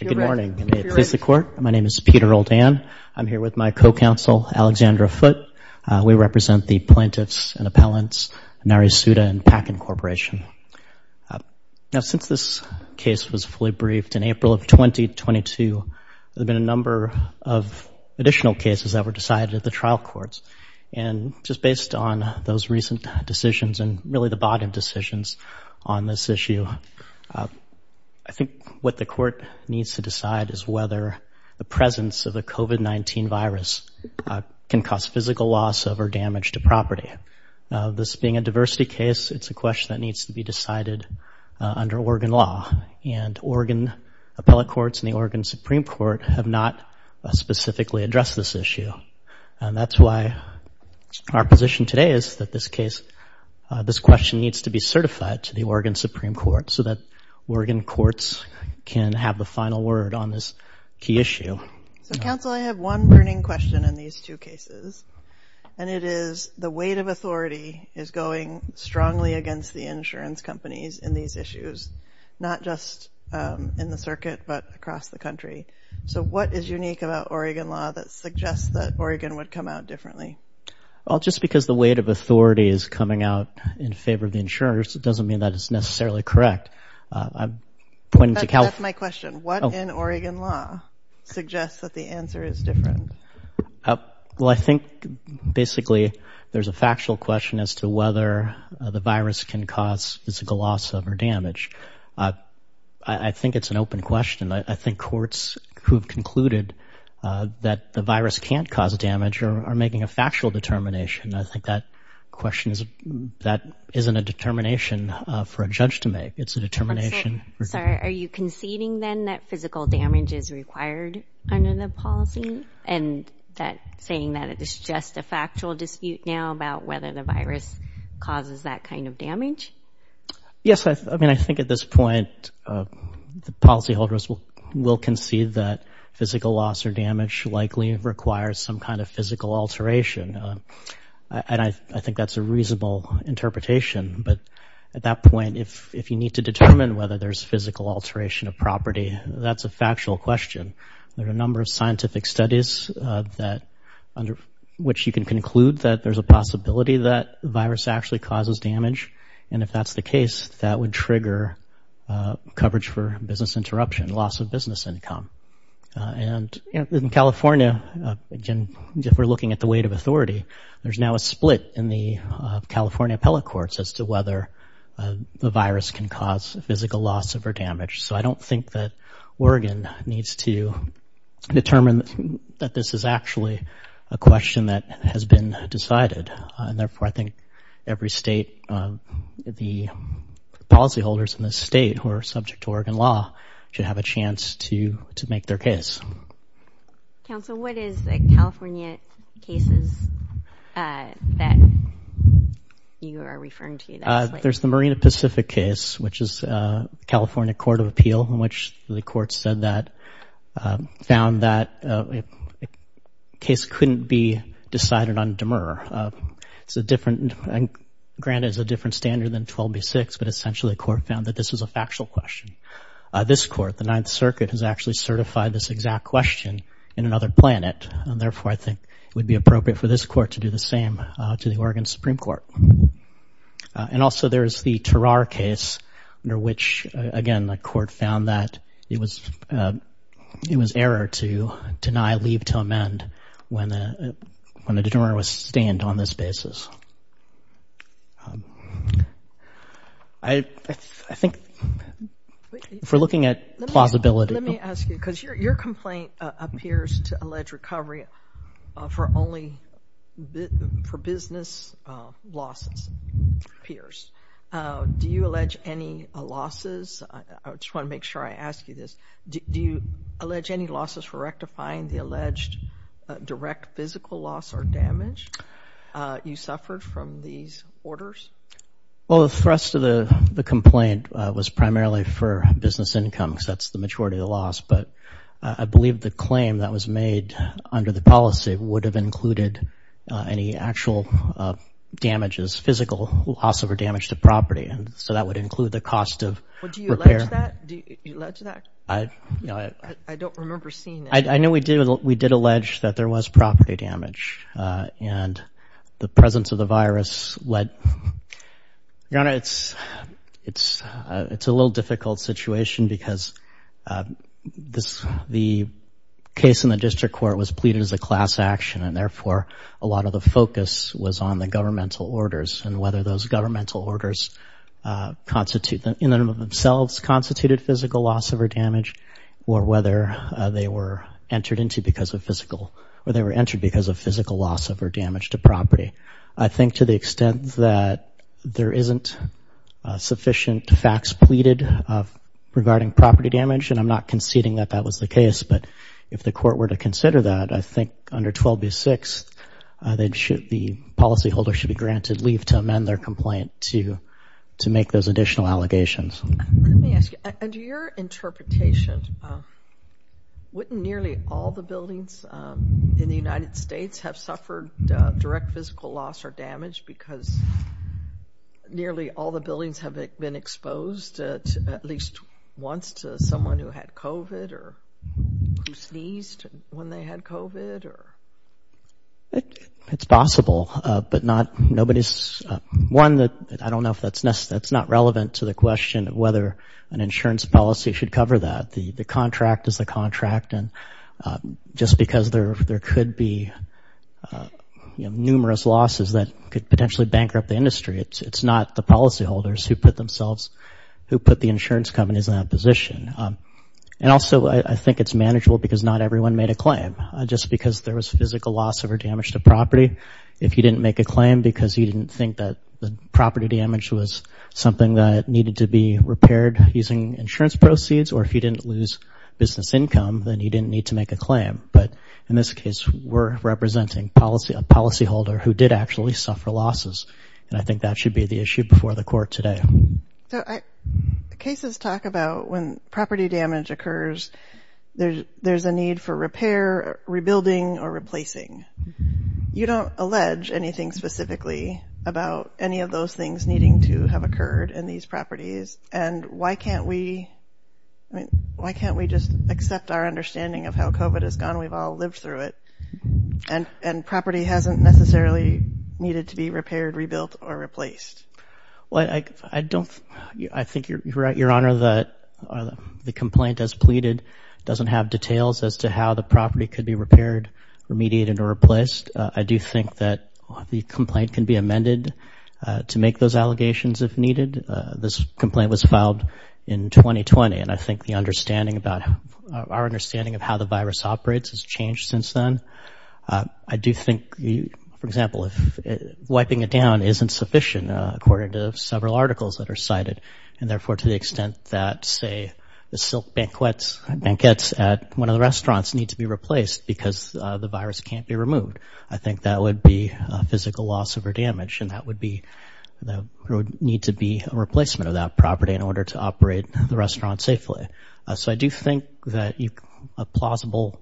Good morning, and may it please the Court, my name is Peter Oldhan. I'm here with my co-counsel, Alexandra Foote. We represent the plaintiffs and appellants, Nari Suda and Packin Corporation. Now, since this case was fully briefed in April of 2022, there have been a number of additional cases that were decided at the trial courts. And just based on those recent decisions and really the bottom decisions on this issue, I think what the Court needs to decide is whether the presence of a COVID-19 virus can cause physical loss over damage to property. This being a diversity case, it's a question that needs to be decided under Oregon law. And Oregon appellate courts and the Oregon Supreme Court have not specifically addressed this issue. And that's why our position today is that this case, this question needs to be certified to the Oregon Supreme Court so that Oregon courts can have the final word on this key issue. So, counsel, I have one burning question in these two cases, and it is the weight of authority is going strongly against the insurance companies in these issues, not just in the circuit, but suggests that Oregon would come out differently. Well, just because the weight of authority is coming out in favor of the insurers, it doesn't mean that it's necessarily correct. I'm pointing to count my question. What in Oregon law suggests that the answer is different? Well, I think basically there's a factual question as to whether the virus can cause physical loss over damage. I think that question is, that isn't a determination for a judge to make. It's a determination. Sorry, are you conceding then that physical damage is required under the policy and that saying that it is just a factual dispute now about whether the virus causes that kind of damage? Yes, I mean, I think at this point, the policyholders will concede that physical loss or damage likely requires some kind of physical alteration, and I think that's a reasonable interpretation. But at that point, if you need to determine whether there's physical alteration of property, that's a factual question. There are a number of scientific studies that, under which you can conclude that there's a possibility that the virus actually causes damage, and if that's the case, that would trigger coverage for business interruption, loss of business income. And in California, again, if we're looking at the weight of authority, there's now a split in the California appellate courts as to whether the virus can cause physical loss over damage. So I don't think that Oregon needs to determine that this is actually a question that has been decided, and therefore I think every state, the policyholders in the state who are subject to Oregon law should have a chance to to make their case. Council, what is the California cases that you are referring to? There's the Marina Pacific case, which is California Court of Appeal, in which the court said that, found that a case couldn't be decided on demur. It's a different, granted it's a different standard than 12b-6, but essentially the court found that this is a factual question. This court, the Ninth Circuit, has actually certified this exact question in another planet, and therefore I think it would be appropriate for this court to do the same to the Oregon Supreme Court. And also there is the Tarar case, under which, again, the court found that it was error to deny leave to amend when the determiner was stand on this basis. I think, if we're looking at plausibility... Let me ask you, because your allege any losses, I just want to make sure I ask you this, do you allege any losses for rectifying the alleged direct physical loss or damage you suffered from these orders? Well, the thrust of the the complaint was primarily for business income, because that's the maturity of the loss, but I believe the claim that was made under the policy would have included any actual damages, physical loss or damage to property, and so that would include the cost of repair. Do you allege that? I don't remember seeing that. I know we did allege that there was property damage, and the presence of the virus led... Your Honor, it's a little difficult situation, because the case in the district court was pleaded as a class action, and whether those governmental orders, in and of themselves, constituted physical loss or damage, or whether they were entered into because of physical, or they were entered because of physical loss or damage to property. I think, to the extent that there isn't sufficient facts pleaded regarding property damage, and I'm not conceding that that was the case, but if the court were to consider that, I think under 12B6, the policyholder should be granted leave to amend their complaint to make those additional allegations. Let me ask you, under your interpretation, wouldn't nearly all the buildings in the United States have suffered direct physical loss or damage, because nearly all the It's possible, but not nobody's... One, that I don't know if that's necessary, that's not relevant to the question of whether an insurance policy should cover that. The contract is the contract, and just because there could be numerous losses that could potentially bankrupt the industry, it's not the policyholders who put themselves, who put the insurance companies in that position. And also, I think it's manageable because not everyone made a claim. Just because there was physical loss or damage to property, if you didn't make a claim because you didn't think that the property damage was something that needed to be repaired using insurance proceeds, or if you didn't lose business income, then you didn't need to make a claim. But in this case, we're representing a policyholder who did actually suffer losses, and I think that should be the issue before the court today. Cases talk about when property damage occurs, there's a need for repair, rebuilding, or replacing. You don't allege anything specifically about any of those things needing to have occurred in these properties, and why can't we just accept our understanding of how COVID has gone, we've all lived through it, and property hasn't necessarily needed to be repaired, rebuilt, or replaced? Well, I don't, I think you're right, Your Honor, that the complaint as pleaded doesn't have details as to how the property could be repaired, remediated, or replaced. I do think that the complaint can be amended to make those allegations if needed. This complaint was filed in 2020, and I think the understanding about, our understanding of how the virus operates has changed since then. I do think, for example, if wiping it down isn't sufficient, according to several articles that are cited, and therefore to the extent that, say, the silk banquets at one of the restaurants need to be replaced because the virus can't be removed, I think that would be a physical loss over damage, and that would be, there would need to be a replacement of that property in order to operate the restaurant safely. So I do think that a plausible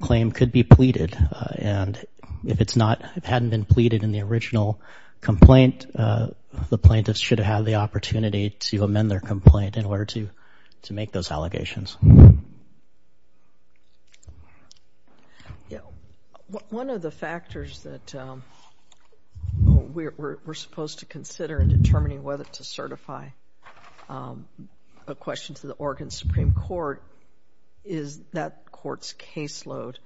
claim could be pleaded, and if it's not, it hadn't been pleaded in the original complaint, the plaintiffs should have had the opportunity to amend their complaint in order to make those allegations. One of the factors that we're supposed to consider in determining whether to certify a question to the Oregon Supreme Court is that court's caseload.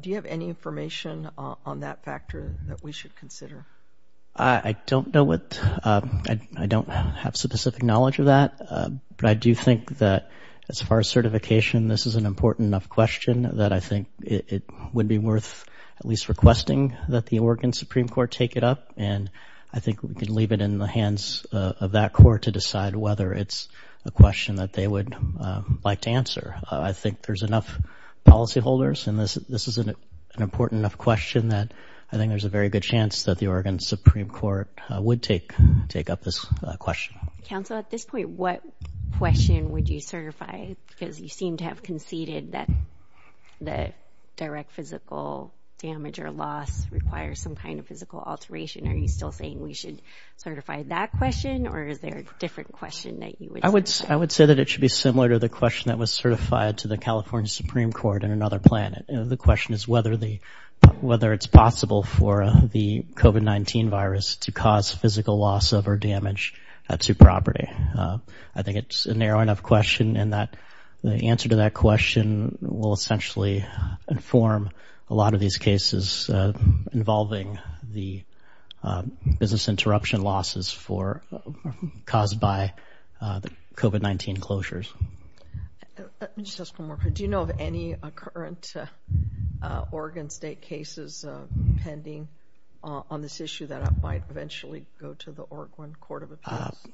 Do you have any information on that factor that we should consider? I don't know what, I don't have specific knowledge of that, but I do think that as far as certification, this is an important enough question that I think it would be worth at least requesting that the Oregon Supreme Court take it up, and I think we can leave it in the hands of that court to decide whether it's a question that they would like to answer. I think there's enough policyholders, and this is an important enough question that I think there's a very good chance that the Oregon Supreme Court would take up this question. Counsel, at this point, what question would you certify? Because you seem to have conceded that the direct physical damage or loss requires some kind of physical alteration. Are you still saying we should certify that question, or is there a different question that you would say? I would say that it should be similar to the question that was certified to the California Supreme Court in another plan. The question is whether it's possible for the COVID-19 virus to cause physical loss of or damage to property. I think it's a narrow enough question, and the answer to that question will essentially inform a lot of these cases involving the business interruption losses caused by the COVID-19 closures. Let me just ask one more question. Do you know of any current Oregon State cases pending on this issue that might eventually go to the Oregon Court of Appeals?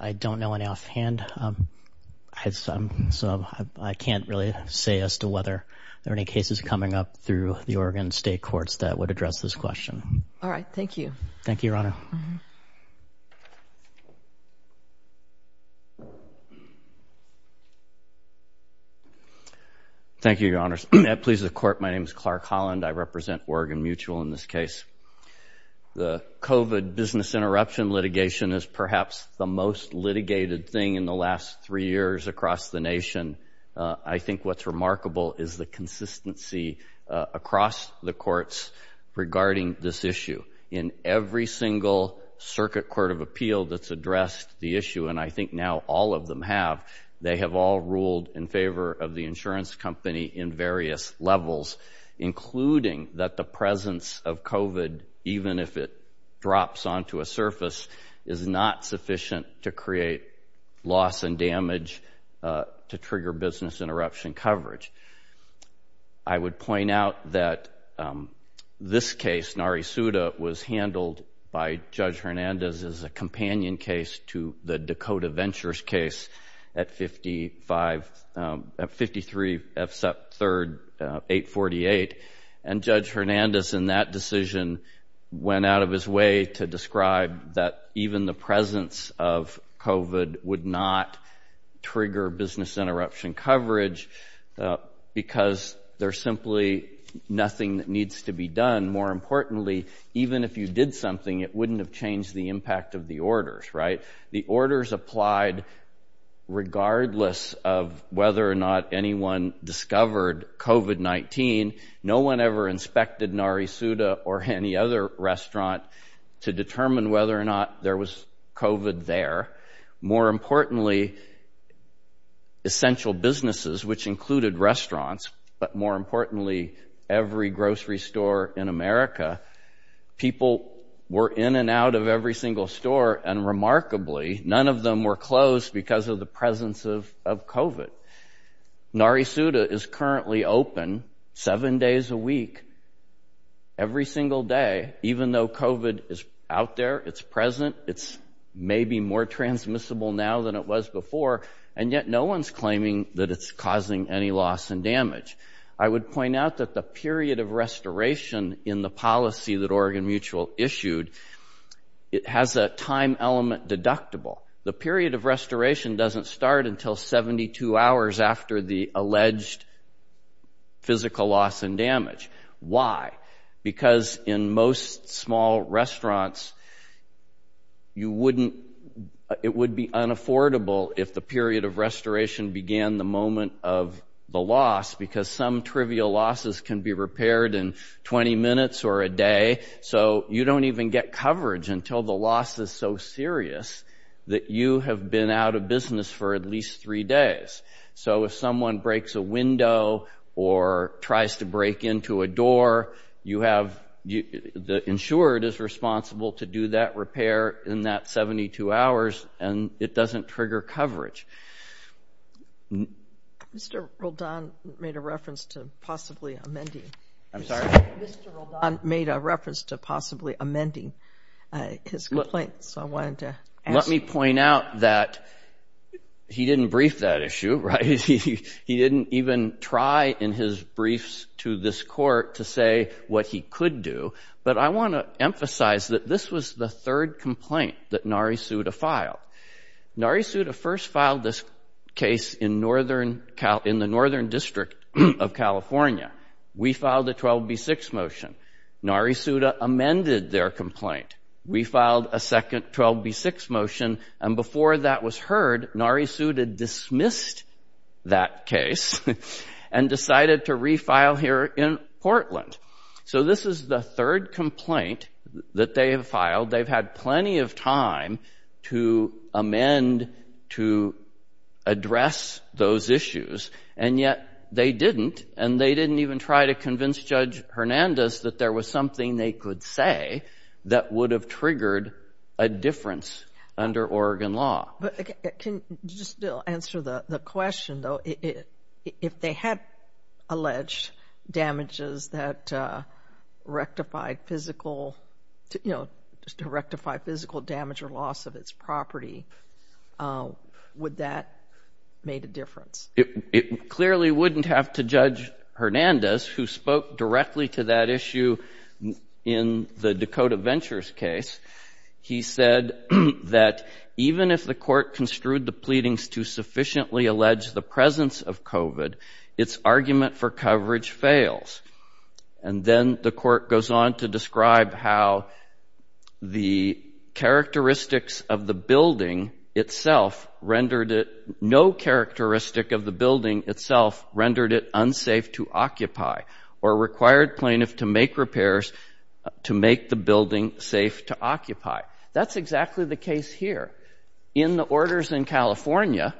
I don't know any offhand, so I can't really say as to whether there are any cases coming up through the Oregon State courts that would address this question. All right. Thank you. Thank you, Your Honor. My name is Clark Holland. I represent Oregon Mutual in this case. The COVID business interruption litigation is perhaps the most litigated thing in the last three years across the nation. I think what's remarkable is the consistency across the courts regarding this issue. In every single circuit court of appeal that's addressed the issue, and I think now all of them have, they have all ruled in favor of the insurance company in various levels, including that the presence of COVID, even if it drops onto a surface, is not sufficient to create loss and damage to trigger business interruption coverage. I would point out that this case, Nari Suda, was handled by Judge Hernandez as a companion case to the Dakota Ventures case at 53 F. Sept. 3, 848, and Judge Hernandez in that decision went out of his way to describe that even the presence of COVID would not trigger business interruption coverage. Because there's simply nothing that needs to be done. More importantly, even if you did something, it wouldn't have changed the impact of the orders, right? The orders applied regardless of whether or not anyone discovered COVID-19. No one ever inspected Nari Suda or any other restaurant to determine whether or not there was COVID there. More importantly, essential businesses, which included restaurants, but more importantly, every grocery store in America, people were in and out of every single store, and remarkably, none of them were closed because of the presence of COVID. Nari Suda is currently open seven days a week, every single day, even though COVID is out there, it's present, it's maybe more transmissible now than it was before, and yet no one's claiming that it's causing any loss and damage. I would point out that the period of restoration in the policy that Oregon Mutual issued, it has a time element deductible. The period of restoration doesn't start until 72 hours after the alleged physical loss and damage. Why? Because in most small restaurants, it would be unaffordable if the period of restoration began the moment of the loss, because some trivial losses can be repaired in 20 minutes or a day, so you don't even get coverage until the loss is so serious that you have been out of business for at least three days. So if someone breaks a window or tries to break into a door, the insured is responsible to do that repair in that 72 hours, and it doesn't trigger coverage. Mr. Roldan made a reference to possibly amending his complaint, so I wanted to ask. Let me point out that he didn't brief that issue, right? He didn't even try in his briefs to this court to say what he could do, but I want to emphasize that this was the third complaint that Nari Suda filed. Nari Suda first filed this case in the Northern District of California. We filed a 12B6 motion. Nari Suda amended their complaint. We filed a second 12B6 motion, and before that was heard, Nari Suda dismissed that case and decided to refile here in Portland. So this is the third complaint that they have filed. They've had plenty of time to amend to address those issues, and yet they didn't, and they didn't even try to convince Judge Hernandez that there was something they could say that would have triggered a difference under Oregon law. But can you still answer the question, though? If they had alleged damages that rectified physical damage or loss of its property, would that have made a difference? It clearly wouldn't have to Judge Hernandez, who spoke directly to that issue in the Dakota Ventures case. He said that even if the court construed the pleadings to sufficiently allege the presence of COVID, its argument for coverage fails. And then the court goes on to describe how the characteristics of the building itself rendered it—no characteristic of the building itself rendered it unsafe to occupy or required plaintiffs to make repairs to make the building safe to occupy. That's exactly the case here. In the orders in California,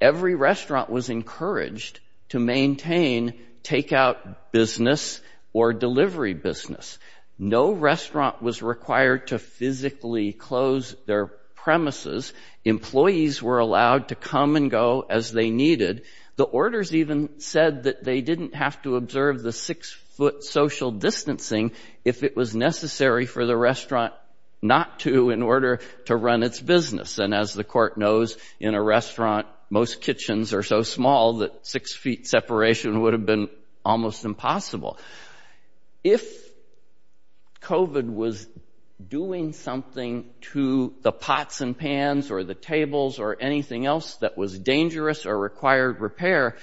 every restaurant was encouraged to maintain takeout business or delivery business. No restaurant was required to physically close their premises. Employees were allowed to come and go as they needed. The orders even said that they didn't have to observe the six-foot social distancing if it was necessary for the restaurant not to in order to run its business. And as the court knows, in a restaurant, most kitchens are so small that six feet separation would have been almost impossible. If COVID was doing something to the pots and pans or the tables or anything else that was dangerous or required repair,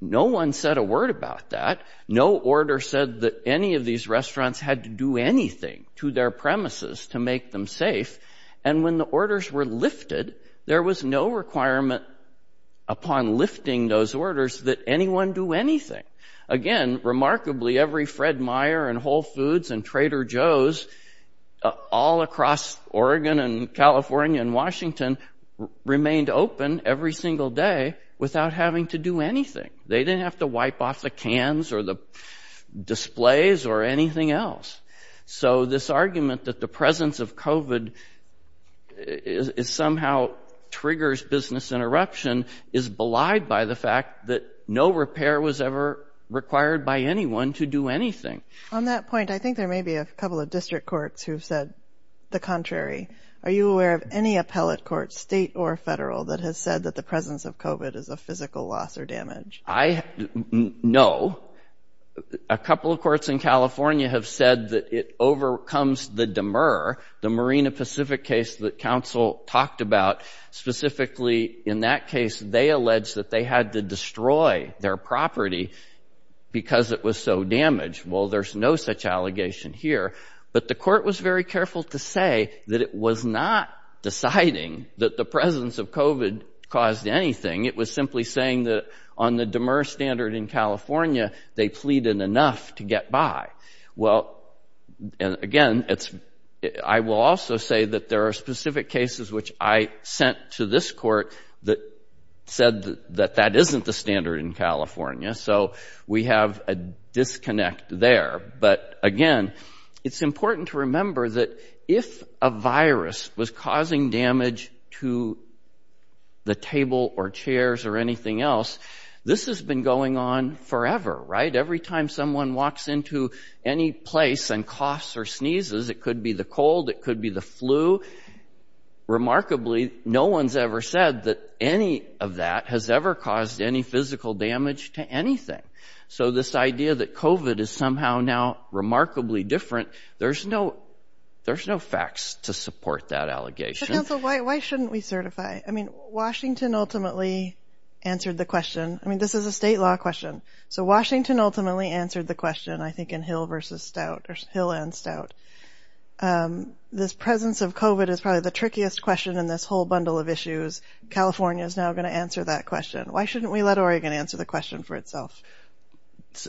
no one said a word about that. No order said that any of these restaurants had to do anything to their premises to make them safe. And when the orders were lifted, there was no requirement upon lifting those orders that anyone do anything. Again, remarkably, every Fred Meyer and Whole Foods and Trader Joe's all across Oregon and California and Washington remained open every single day without having to do anything. They didn't have to wipe off the cans or the displays or anything else. So this argument that the presence of COVID is somehow triggers business interruption is belied by the fact that no repair was ever required by anyone to do anything. On that point, I think there may be a couple of district courts who've said the contrary. Are you aware of any appellate court, state or federal, that has said that the presence of COVID is a physical loss or damage? No. A couple of courts in California have said that it overcomes the Demurr, the Marina Pacific case that counsel talked about. Specifically in that case, they alleged that they had to destroy their property because it was so damaged. Well, there's no such allegation here. But the court was very careful to say that it was not deciding that the presence of COVID caused anything. It was simply saying that on the Demurr standard in California, they pleaded enough to get by. Well, again, I will also say that there are specific cases which I sent to this court that said that that isn't the standard in California. So we have a disconnect there. But again, it's important to remember that if a virus was causing damage to the table or chairs or anything else, this has been going on forever, right? Every time someone walks into any place and coughs or sneezes, it could be the cold, it could be the flu. Remarkably, no one's ever said that any of that has ever caused any physical damage to anything. So this idea that COVID is somehow now remarkably different, there's no facts to support that allegation. But counsel, why shouldn't we certify? I mean, Washington ultimately answered the question. I mean, this is a state law question. So Washington ultimately answered the question, I think, in Hill versus Stout or Hill and Stout. This presence of COVID is probably the trickiest question in this whole bundle of issues. California is now going to answer that question. Why shouldn't we let Oregon answer the question for itself?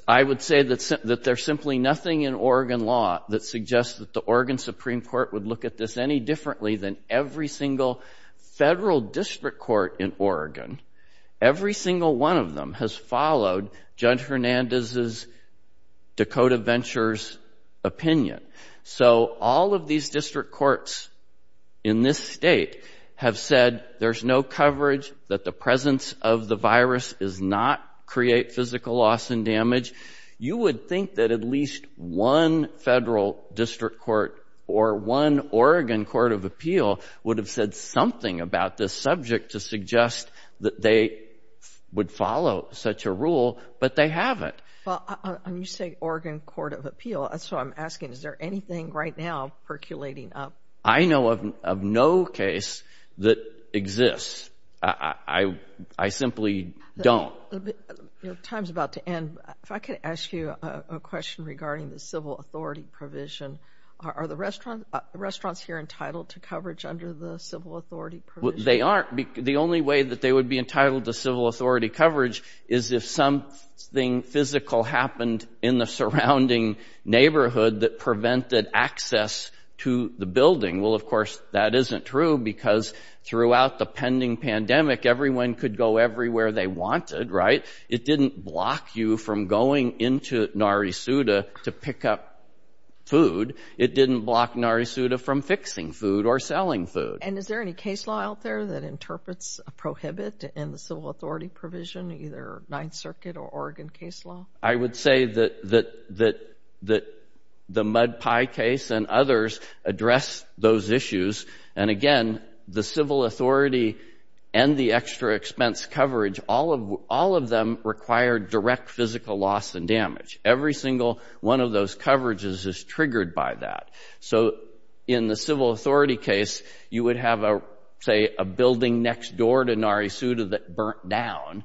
I would say that there's simply nothing in Oregon law that suggests that the Oregon Supreme Court would look at this any differently than every single federal district court in Oregon. Every single one of them has followed Judge Hernandez's Dakota Ventures opinion. So all of these district courts in this state have said there's no coverage, that the presence of the virus does not create physical loss and damage. You would think that at least one federal district court or one Oregon Court of Appeal would have said something about this subject to suggest that they would follow such a rule, but they haven't. When you say Oregon Court of Appeal, that's what I'm asking. Is there anything right now percolating up? I know of no case that exists. I simply don't. Your time's about to end. If I could ask you a question regarding the civil authority provision. Are the restaurants here entitled to coverage under the civil authority provision? The only way that they would be entitled to civil authority coverage is if something physical happened in the surrounding neighborhood that prevented access to the building. Well, of course, that isn't true because throughout the pending pandemic, everyone could go everywhere they wanted, right? It didn't block you from going into Nari Suda to pick up food. It didn't block Nari Suda from fixing food or selling food. And is there any case law out there that interprets a prohibit in the civil authority provision, either Ninth Circuit or Oregon case law? I would say that the Mud Pie case and others address those issues. And again, the civil authority and the extra expense coverage, all of them require direct physical loss and damage. Every single one of those coverages is triggered by that. So in the civil authority case, you would have, say, a building next door to Nari Suda that burnt down,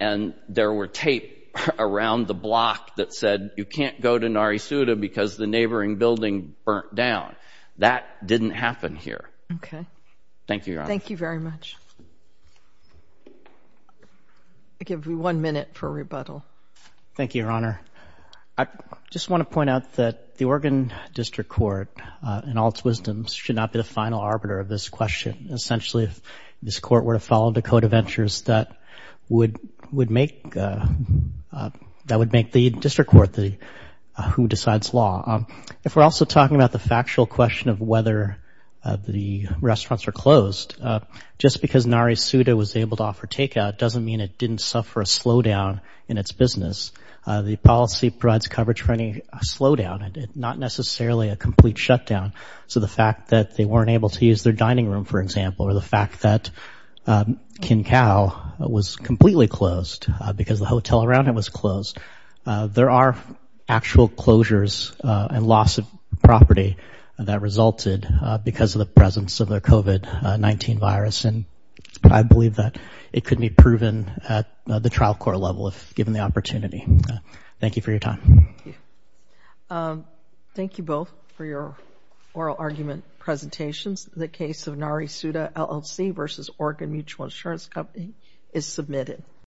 and there were tape around the block that said you can't go to Nari Suda because the neighboring building burnt down. That didn't happen here. Thank you, Your Honor. Thank you very much. I give you one minute for rebuttal. Thank you, Your Honor. I just want to point out that the Oregon District Court, in all its wisdoms, should not be the final arbiter of this question. Essentially, if this court were to follow Dakota Ventures, that would make the district court who decides law. If we're also talking about the factual question of whether the restaurants are closed, just because Nari Suda was able to offer takeout doesn't mean it didn't suffer a slowdown in its business. The policy provides coverage for any slowdown, not necessarily a complete shutdown. So the fact that they weren't able to use their dining room, for example, or the fact that Kin Cow was completely closed because the hotel around it was closed, there are actual closures and loss of property that resulted because of the presence of the COVID-19 virus. And I believe that it could be proven at the trial court level if given the opportunity. Thank you for your time. Thank you both for your oral argument presentations. The case of Nari Suda LLC v. Oregon Mutual Insurance Company is submitted.